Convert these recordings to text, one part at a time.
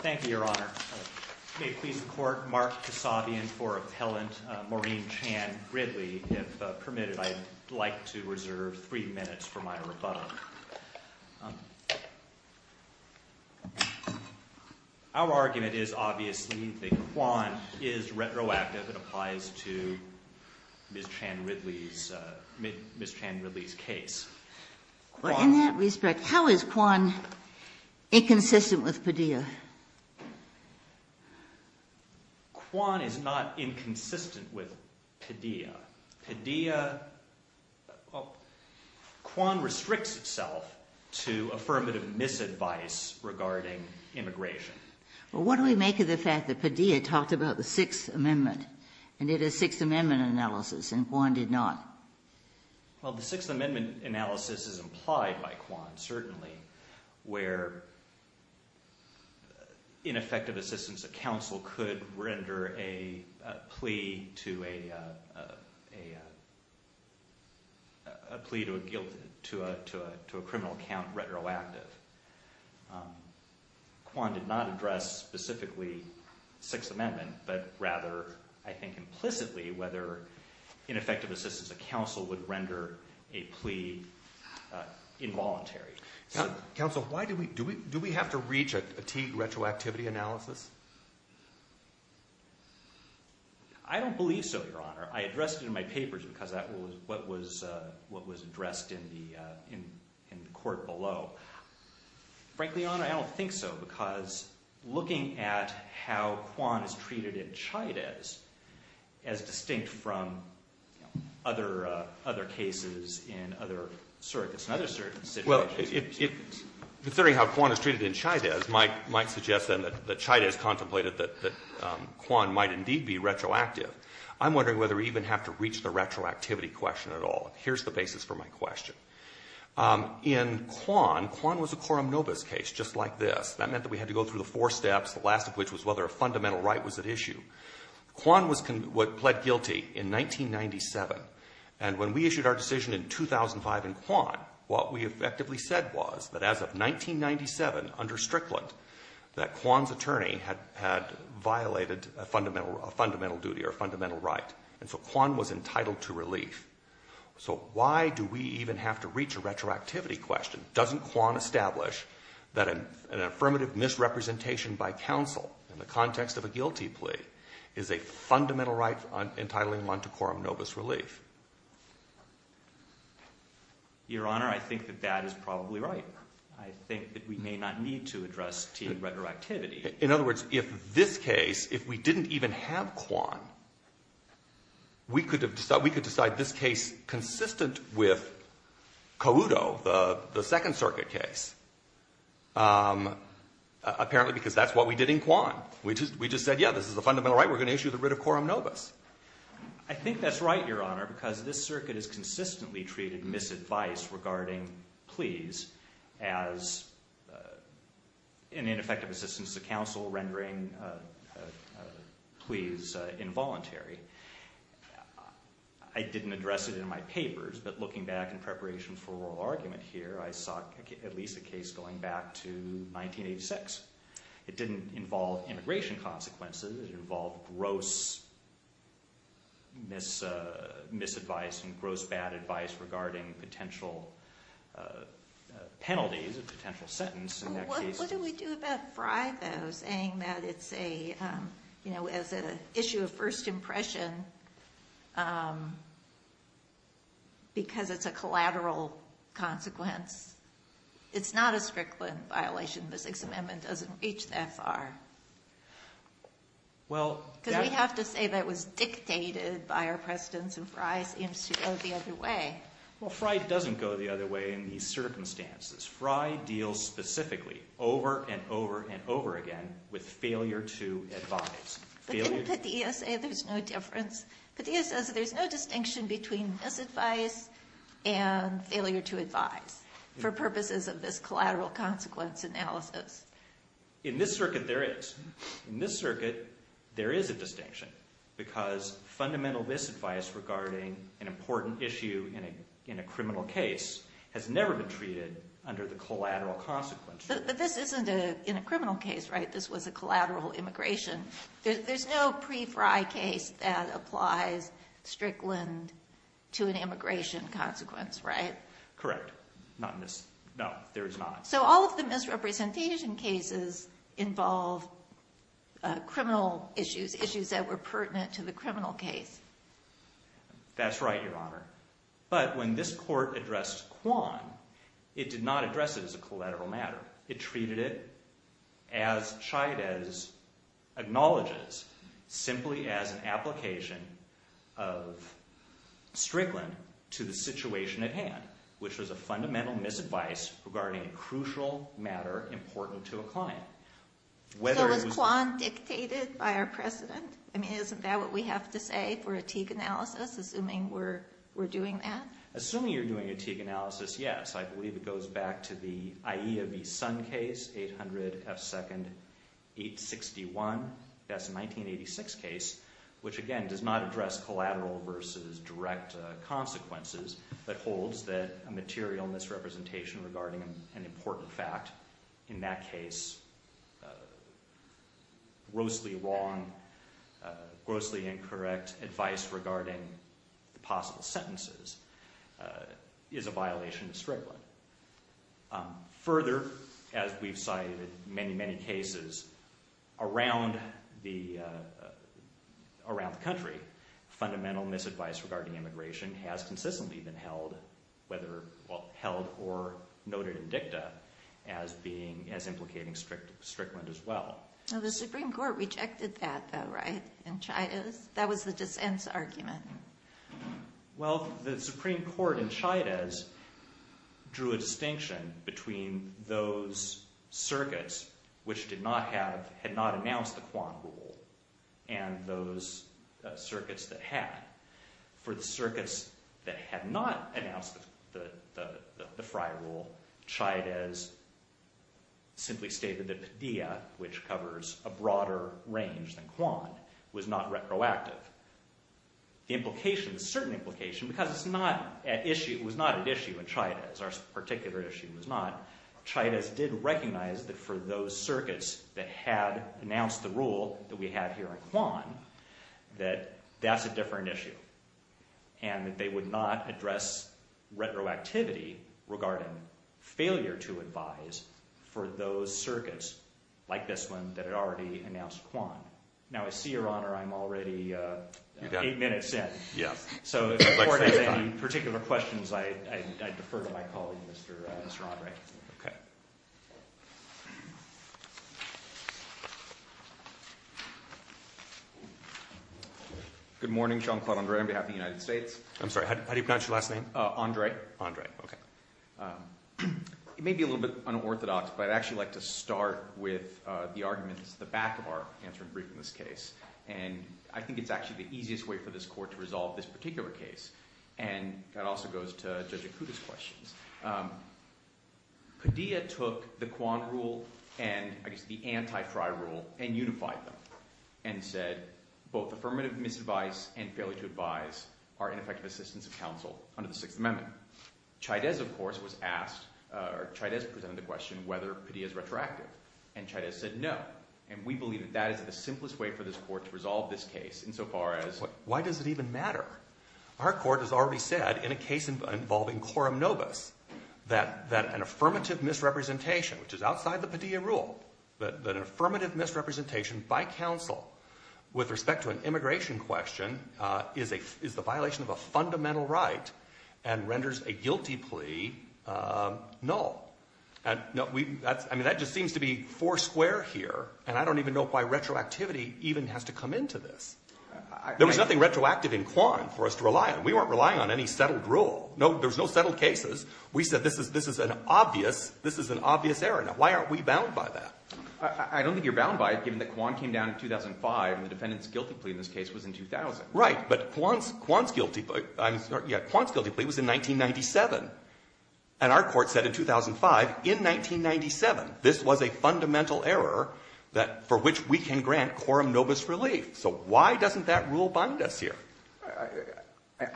Thank you, Your Honor. May it please the Court, Mark Kasabian for appellant Maureen Chan Ridley. If permitted, I'd like to reserve three minutes for my rebuttal. Our argument is obviously that Kwan is retroactive. It applies to Ms. Chan Ridley's case. In that respect, how is Kwan inconsistent with Padilla? Kwan is not inconsistent with Padilla. Padilla... Kwan restricts itself to affirmative misadvice regarding immigration. What do we make of the fact that Padilla talked about the Sixth Amendment and did a Sixth Amendment analysis and Kwan did not? Well, the Sixth Amendment analysis is implied by Kwan, certainly, where ineffective assistance of counsel could render a plea to a criminal account retroactive. Kwan did not address specifically the Sixth Amendment, but rather, I think implicitly, whether ineffective assistance of counsel would render a plea involuntary. Counsel, do we have to reach a retroactivity analysis? I don't believe so, Your Honor. I addressed it in my papers because that was what was addressed in the court below. Frankly, Your Honor, I don't think so because looking at how Kwan is treated in Chaydez, as distinct from other cases in other circuits and other circumstances... The theory how Kwan is treated in Chaydez might suggest then that Chaydez contemplated that Kwan might indeed be retroactive. I'm wondering whether we even have to reach the retroactivity question at all. Here's the basis for my question. In Kwan, Kwan was a quorum nobis case, just like this. That meant that we had to go through the four steps, the last of which was whether a fundamental right was at issue. Kwan pled guilty in 1997, and when we issued our decision in 2005 in Kwan, what we effectively said was that as of 1997, under Strickland, that Kwan's attorney had violated a fundamental duty or a fundamental right. And so Kwan was entitled to relief. So why do we even have to reach a retroactivity question? Doesn't Kwan establish that an affirmative misrepresentation by counsel in the context of a guilty plea is a fundamental right entitling one to quorum nobis relief? Your Honor, I think that that is probably right. I think that we may not need to address to retroactivity. In other words, if this case, if we didn't even have Kwan, we could decide this case consistent with Couto, the Second Circuit case, apparently because that's what we did in Kwan. We just said, yeah, this is a fundamental right. We're going to issue the writ of quorum nobis. I think that's right, Your Honor, because this circuit has consistently treated misadvice regarding pleas as an ineffective assistance to counsel, rendering pleas involuntary. I didn't address it in my papers, but looking back in preparation for oral argument here, I saw at least a case going back to 1986. It didn't involve immigration consequences. It involved gross misadvice and gross bad advice regarding potential penalties, a potential sentence in that case. What do we do about Frye, though, saying that it's an issue of first impression because it's a collateral consequence? It's not a Strickland violation. The Sixth Amendment doesn't reach that far. Because we have to say that it was dictated by our precedents, and Frye seems to go the other way. Well, Frye doesn't go the other way in these circumstances. Frye deals specifically over and over and over again with failure to advise. But didn't Petia say there's no difference? Petia says that there's no distinction between misadvice and failure to advise for purposes of this collateral consequence analysis. In this circuit, there is. In this circuit, there is a distinction because fundamental misadvice regarding an important issue in a criminal case has never been treated under the collateral consequence. But this isn't in a criminal case, right? This was a collateral immigration. There's no pre-Frye case that applies Strickland to an immigration consequence, right? Correct. Not in this. No, there is not. So all of the misrepresentation cases involve criminal issues, issues that were pertinent to the criminal case. That's right, Your Honor. But when this court addressed Kwan, it did not address it as a collateral matter. It treated it as Chaidez acknowledges, simply as an application of Strickland to the situation at hand, which was a fundamental misadvice regarding a crucial matter important to a client. So was Kwan dictated by our precedent? I mean, isn't that what we have to say for a Teague analysis, assuming we're doing that? Assuming you're doing a Teague analysis, yes. I believe it goes back to the IEA v. Sun case, 800 F. 2nd 861. That's a 1986 case, which again does not address collateral versus direct consequences, but holds that a material misrepresentation regarding an important fact, in that case, grossly wrong, grossly incorrect advice regarding the possible sentences. It is a violation of Strickland. Further, as we've cited in many, many cases around the country, fundamental misadvice regarding immigration has consistently been held, whether held or noted in dicta, as implicating Strickland as well. The Supreme Court rejected that, though, right, in Chaidez? That was the dissent's argument. Well, the Supreme Court in Chaidez drew a distinction between those circuits which did not have, had not announced the Kwan rule and those circuits that had. For the circuits that had not announced the Frey rule, Chaidez simply stated that Padilla, which covers a broader range than Kwan, was not retroactive. The implication, the certain implication, because it's not an issue, it was not an issue in Chaidez, our particular issue was not, Chaidez did recognize that for those circuits that had announced the rule that we have here in Kwan, that that's a different issue. And that they would not address retroactivity regarding failure to advise for those circuits, like this one, that had already announced Kwan. Now, I see, Your Honor, I'm already eight minutes in. Yeah. So, if the Court has any particular questions, I defer to my colleague, Mr. Andre. Okay. Good morning. Sean Claude Andre on behalf of the United States. I'm sorry, how do you pronounce your last name? Andre. Andre, okay. It may be a little bit unorthodox, but I'd actually like to start with the arguments at the back of our answering brief in this case. And I think it's actually the easiest way for this Court to resolve this particular case. And that also goes to Judge Akuta's questions. Padilla took the Kwan rule and, I guess, the anti-Frey rule and unified them and said both affirmative misadvice and failure to advise are ineffective assistance of counsel under the Sixth Amendment. At the same time, Chaydez, of course, was asked or Chaydez presented the question whether Padilla is retroactive. And Chaydez said no. And we believe that that is the simplest way for this Court to resolve this case insofar as… Why does it even matter? Our Court has already said in a case involving Coram Nobis that an affirmative misrepresentation, which is outside the Padilla rule, that an affirmative misrepresentation by counsel with respect to an immigration question is the violation of a fundamental right and renders a guilty plea null. And that just seems to be four square here. And I don't even know why retroactivity even has to come into this. There was nothing retroactive in Kwan for us to rely on. We weren't relying on any settled rule. There's no settled cases. We said this is an obvious error. Why aren't we bound by that? I don't think you're bound by it given that Kwan came down in 2005 and the defendant's guilty plea in this case was in 2000. Right, but Kwan's guilty plea was in 1997. And our Court said in 2005, in 1997, this was a fundamental error for which we can grant Coram Nobis relief. So why doesn't that rule bind us here?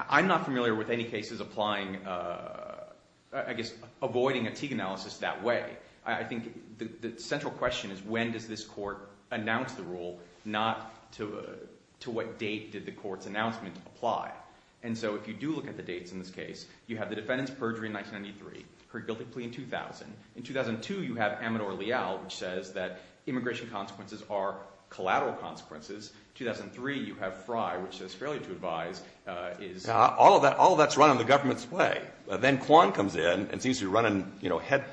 I'm not familiar with any cases applying, I guess avoiding a Teague analysis that way. I think the central question is when does this Court announce the rule, not to what date did the Court's announcement apply? And so if you do look at the dates in this case, you have the defendant's perjury in 1993, her guilty plea in 2000. In 2002, you have Amador-Leal, which says that immigration consequences are collateral consequences. In 2003, you have Frey, which says failure to advise. All of that's running the government's way. Then Kwan comes in and seems to be running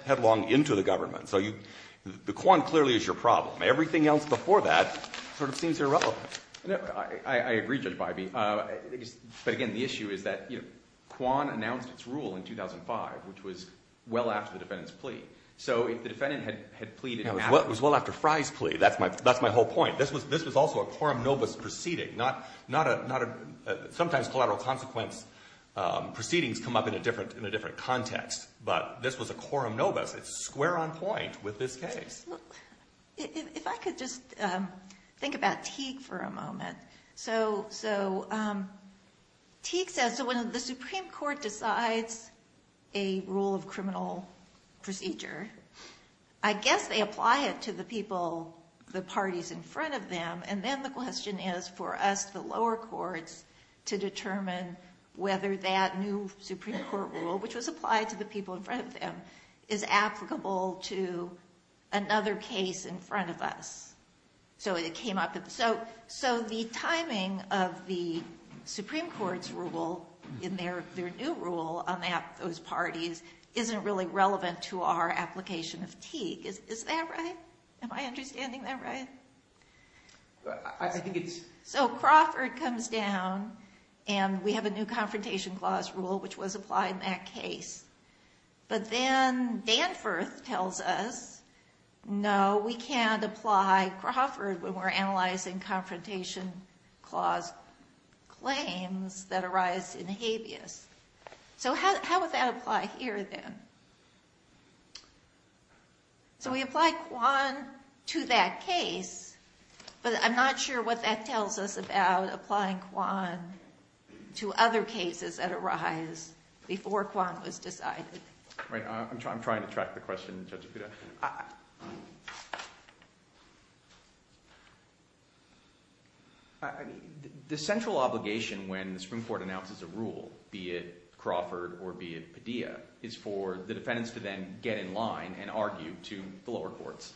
headlong into the government. So the Kwan clearly is your problem. Everything else before that sort of seems irrelevant. I agree, Judge Bybee. But, again, the issue is that Kwan announced its rule in 2005, which was well after the defendant's plea. So if the defendant had pleaded in half… It was well after Frey's plea. That's my whole point. This was also a Coram Nobis proceeding. Sometimes collateral consequence proceedings come up in a different context. But this was a Coram Nobis. It's square on point with this case. If I could just think about Teague for a moment. So Teague says when the Supreme Court decides a rule of criminal procedure, I guess they apply it to the people, the parties in front of them. And then the question is for us, the lower courts, to determine whether that new Supreme Court rule, which was applied to the people in front of them, is applicable to another case in front of us. So the timing of the Supreme Court's rule in their new rule on those parties isn't really relevant to our application of Teague. Is that right? Am I understanding that right? I think it's… So Crawford comes down, and we have a new confrontation clause rule, which was applied in that case. But then Danforth tells us, no, we can't apply Crawford when we're analyzing confrontation clause claims that arise in habeas. So how would that apply here then? So we apply Quan to that case, but I'm not sure what that tells us about applying Quan to other cases that arise before Quan was decided. Right. I'm trying to track the question, Judge Apuda. I mean, the central obligation when the Supreme Court announces a rule, be it Crawford or be it Padilla, is for the defendants to then get in line and argue to the lower courts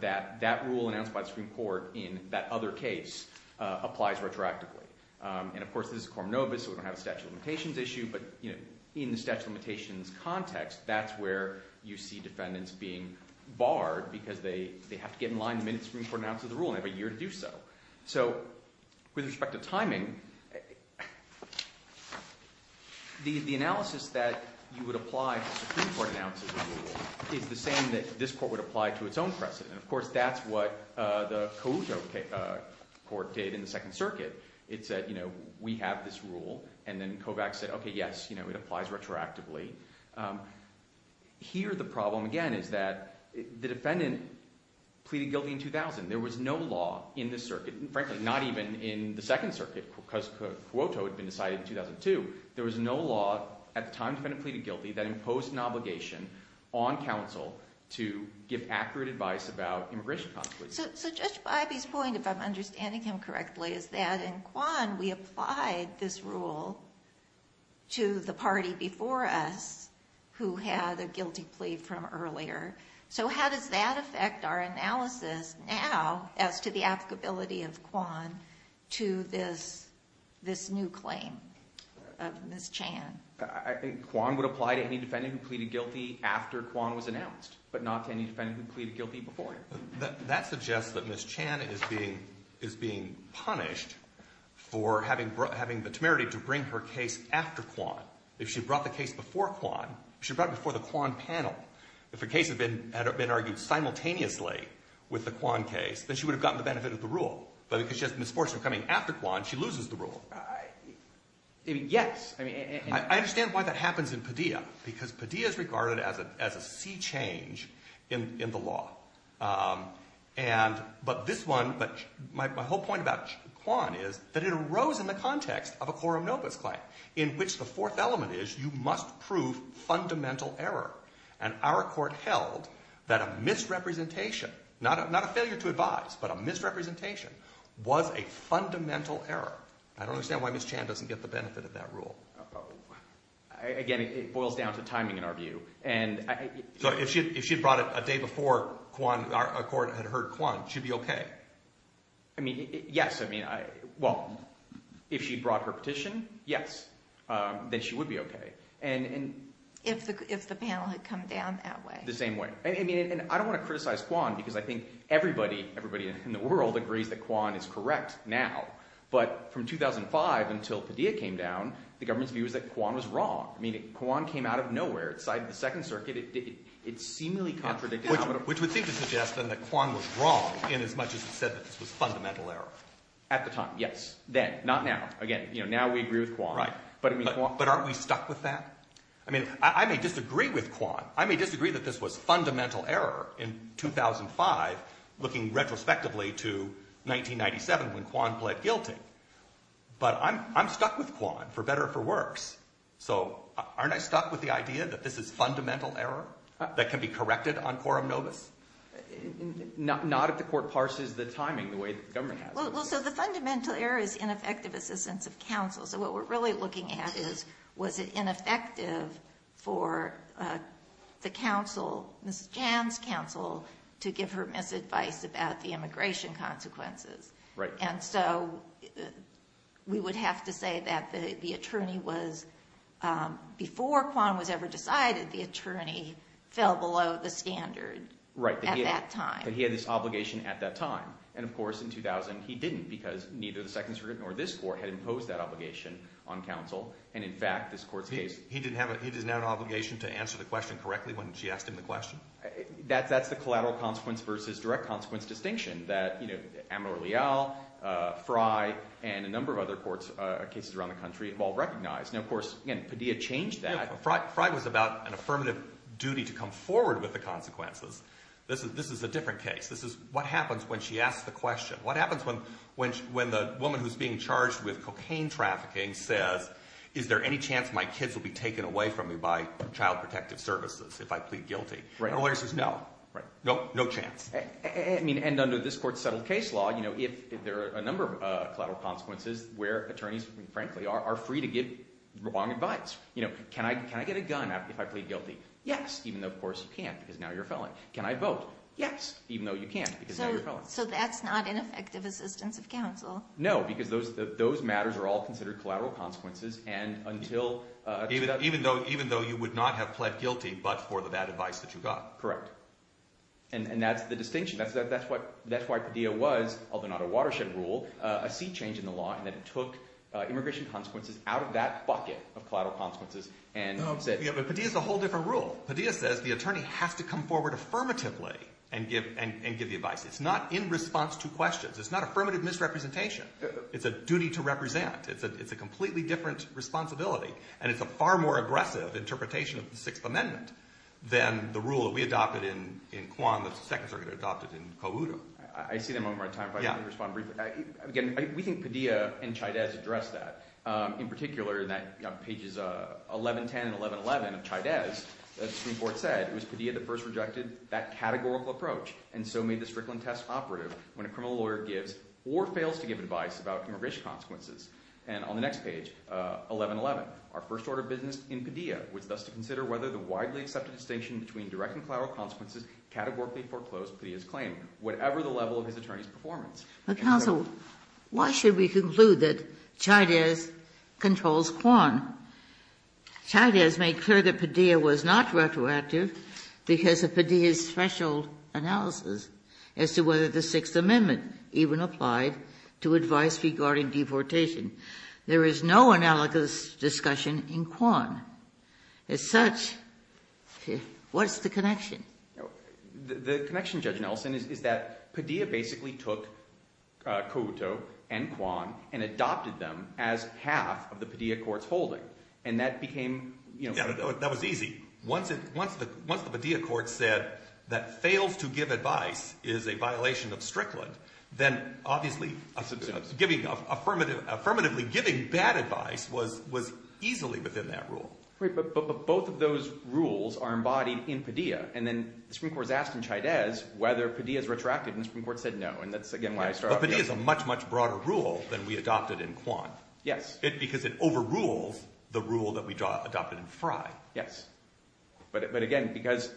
that that rule announced by the Supreme Court in that other case applies retroactively. And, of course, this is Cormobus, so we don't have a statute of limitations issue. But in the statute of limitations context, that's where you see defendants being barred because they have to get in line the minute the Supreme Court announces the rule, and they have a year to do so. So with respect to timing, the analysis that you would apply to the Supreme Court announces the rule is the same that this court would apply to its own precedent. And, of course, that's what the Cuoto court did in the Second Circuit. It said, you know, we have this rule, and then Kovacs said, okay, yes, you know, it applies retroactively. Here the problem, again, is that the defendant pleaded guilty in 2000. There was no law in this circuit, and frankly, not even in the Second Circuit because Cuoto had been decided in 2002. There was no law at the time the defendant pleaded guilty that imposed an obligation on counsel to give accurate advice about immigration consequences. So Judge Baiby's point, if I'm understanding him correctly, is that in Quan we applied this rule to the party before us who had a guilty plea from earlier. So how does that affect our analysis now as to the applicability of Quan to this new claim? Ms. Chan. I think Quan would apply to any defendant who pleaded guilty after Quan was announced, but not to any defendant who pleaded guilty before him. That suggests that Ms. Chan is being punished for having the temerity to bring her case after Quan. If she brought the case before Quan, she brought it before the Quan panel. If the case had been argued simultaneously with the Quan case, then she would have gotten the benefit of the rule. But because she has misfortune coming after Quan, she loses the rule. Yes. I understand why that happens in Padilla because Padilla is regarded as a sea change in the law. But this one, my whole point about Quan is that it arose in the context of a quorum nobis claim in which the fourth element is you must prove fundamental error. And our court held that a misrepresentation, not a failure to advise, but a misrepresentation was a fundamental error. I don't understand why Ms. Chan doesn't get the benefit of that rule. Again, it boils down to timing in our view. So if she had brought it a day before Quan, a court had heard Quan, she'd be okay? I mean, yes. I mean, well, if she brought her petition, yes, then she would be okay. If the panel had come down that way. The same way. I mean, and I don't want to criticize Quan because I think everybody, everybody in the world agrees that Quan is correct now. But from 2005 until Padilla came down, the government's view was that Quan was wrong. I mean, Quan came out of nowhere. It sided with the Second Circuit. It seemingly contradicted— Which would seem to suggest then that Quan was wrong inasmuch as it said that this was fundamental error. At the time, yes. Then, not now. Again, now we agree with Quan. Right. But aren't we stuck with that? I mean, I may disagree with Quan. I may disagree that this was fundamental error in 2005 looking retrospectively to 1997 when Quan pled guilty. But I'm stuck with Quan for better or for worse. So aren't I stuck with the idea that this is fundamental error that can be corrected on quorum nobis? Not if the court parses the timing the way the government has. Well, so the fundamental error is ineffective assistance of counsel. So what we're really looking at is was it ineffective for the counsel, Mrs. Jan's counsel, to give her misadvice about the immigration consequences? Right. And so we would have to say that the attorney was—before Quan was ever decided, the attorney fell below the standard at that time. Right, that he had this obligation at that time. And, of course, in 2000, he didn't because neither the Second Circuit nor this court had imposed that obligation on counsel. And, in fact, this court's case— He didn't have an obligation to answer the question correctly when she asked him the question? That's the collateral consequence versus direct consequence distinction that Amador Leal, Frey, and a number of other cases around the country have all recognized. Now, of course, again, Padilla changed that. Frey was about an affirmative duty to come forward with the consequences. This is a different case. This is what happens when she asks the question. What happens when the woman who's being charged with cocaine trafficking says, is there any chance my kids will be taken away from me by Child Protective Services if I plead guilty? Right. And the lawyer says, no. Right. No chance. And under this court's settled case law, there are a number of collateral consequences where attorneys, frankly, are free to give wrong advice. Can I get a gun if I plead guilty? Yes, even though, of course, you can't because now you're a felon. Can I vote? Yes. Even though you can't because now you're a felon. So that's not an effective assistance of counsel. No, because those matters are all considered collateral consequences and until— Even though you would not have pled guilty but for the bad advice that you got. Correct. And that's the distinction. That's why Padilla was, although not a watershed rule, a sea change in the law in that it took immigration consequences out of that bucket of collateral consequences and said— But Padilla's a whole different rule. Padilla says the attorney has to come forward affirmatively and give the advice. It's not in response to questions. It's not affirmative misrepresentation. It's a duty to represent. It's a completely different responsibility. And it's a far more aggressive interpretation of the Sixth Amendment than the rule that we adopted in Kwan that the Second Circuit adopted in Cowoodo. I see that moment of my time. If I could respond briefly. Again, we think Padilla and Chaidez addressed that. In particular, in pages 1110 and 1111 of Chaidez, this report said it was Padilla that first rejected that categorical approach and so made the Strickland test operative when a criminal lawyer gives or fails to give advice about immigration consequences. And on the next page, 1111, our first order of business in Padilla was thus to consider whether the widely accepted distinction between direct and collateral consequences categorically foreclosed Padilla's claim, whatever the level of his attorney's performance. Counsel, why should we conclude that Chaidez controls Kwan? Chaidez made clear that Padilla was not retroactive because of Padilla's special analysis as to whether the Sixth Amendment even applied to advice regarding deportation. There is no analogous discussion in Kwan. The connection, Judge Nelson, is that Padilla basically took Cowoodo and Kwan and adopted them as half of the Padilla court's holding. And that became— That was easy. Once the Padilla court said that fails to give advice is a violation of Strickland, then obviously giving—affirmatively giving bad advice was easily within that rule. But both of those rules are embodied in Padilla. And then the Supreme Court has asked in Chaidez whether Padilla is retroactive, and the Supreme Court said no. And that's, again, why I start off— But Padilla is a much, much broader rule than we adopted in Kwan. Yes. Because it overrules the rule that we adopted in Frye. Yes. But, again, because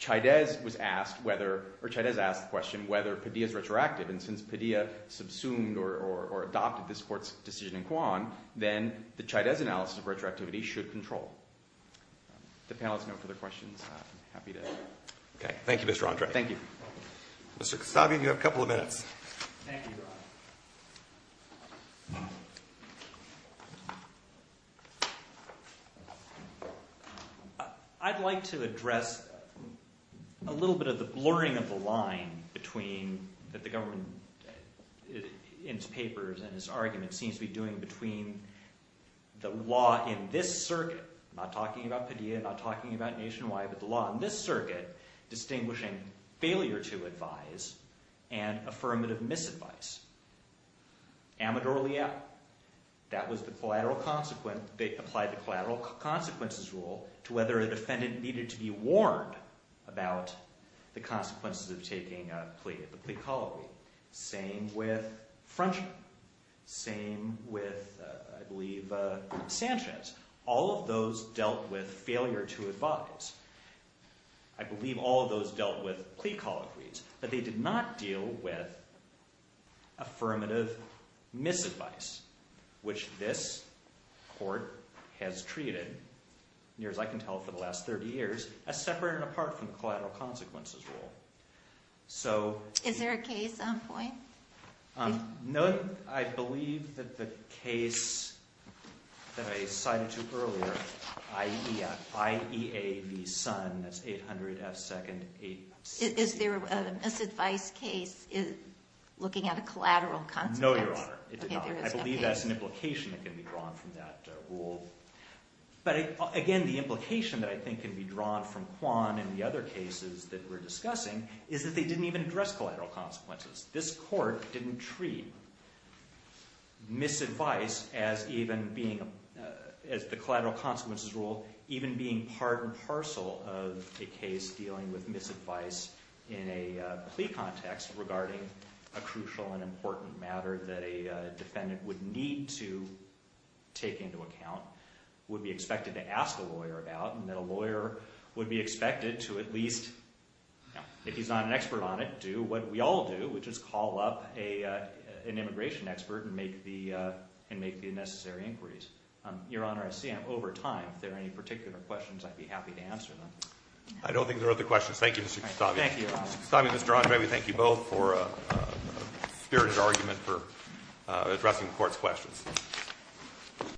Chaidez was asked whether—or Chaidez asked the question whether Padilla is retroactive. And since Padilla subsumed or adopted this court's decision in Kwan, then the Chaidez analysis of retroactivity should control. If the panelists have no further questions, I'm happy to— Okay. Thank you, Mr. Andre. Thank you. Mr. Kostovian, you have a couple of minutes. Thank you, Your Honor. I'd like to address a little bit of the blurring of the line between—that the government in its papers and its argument seems to be doing between the law in this circuit— not talking about Padilla, not talking about Nationwide, but the law in this circuit— distinguishing failure to advise and affirmative misadvice. Amador-Leal. That was the collateral consequence—they applied the collateral consequences rule to whether a defendant needed to be warned about the consequences of taking a plea, the plea colloquy. Same with Frenchman. Same with, I believe, Sanchez. All of those dealt with failure to advise. I believe all of those dealt with plea colloquies, but they did not deal with affirmative misadvice, which this Court has treated, near as I can tell for the last 30 years, as separate and apart from the collateral consequences rule. So— Is there a case on point? No. I believe that the case that I cited to you earlier, IEA v. Sun, that's 800 F. 2nd— Is there a misadvice case looking at a collateral consequence? No, Your Honor. It did not. I believe that's an implication that can be drawn from that rule. But, again, the implication that I think can be drawn from Quan and the other cases that we're discussing is that they didn't even address collateral consequences. This Court didn't treat misadvice as even being—as the collateral consequences rule, even being part and parcel of a case dealing with misadvice in a plea context regarding a crucial and important matter that a defendant would need to take into account, would be expected to ask a lawyer about, and that a lawyer would be expected to at least, if he's not an expert on it, do what we all do, which is call up an immigration expert and make the necessary inquiries. Your Honor, I see I'm over time. If there are any particular questions, I'd be happy to answer them. I don't think there are other questions. Thank you, Mr. Kastabi. Thank you, Your Honor. Mr. Kastabi and Mr. Ong, may we thank you both for a spirited argument for addressing the Court's questions.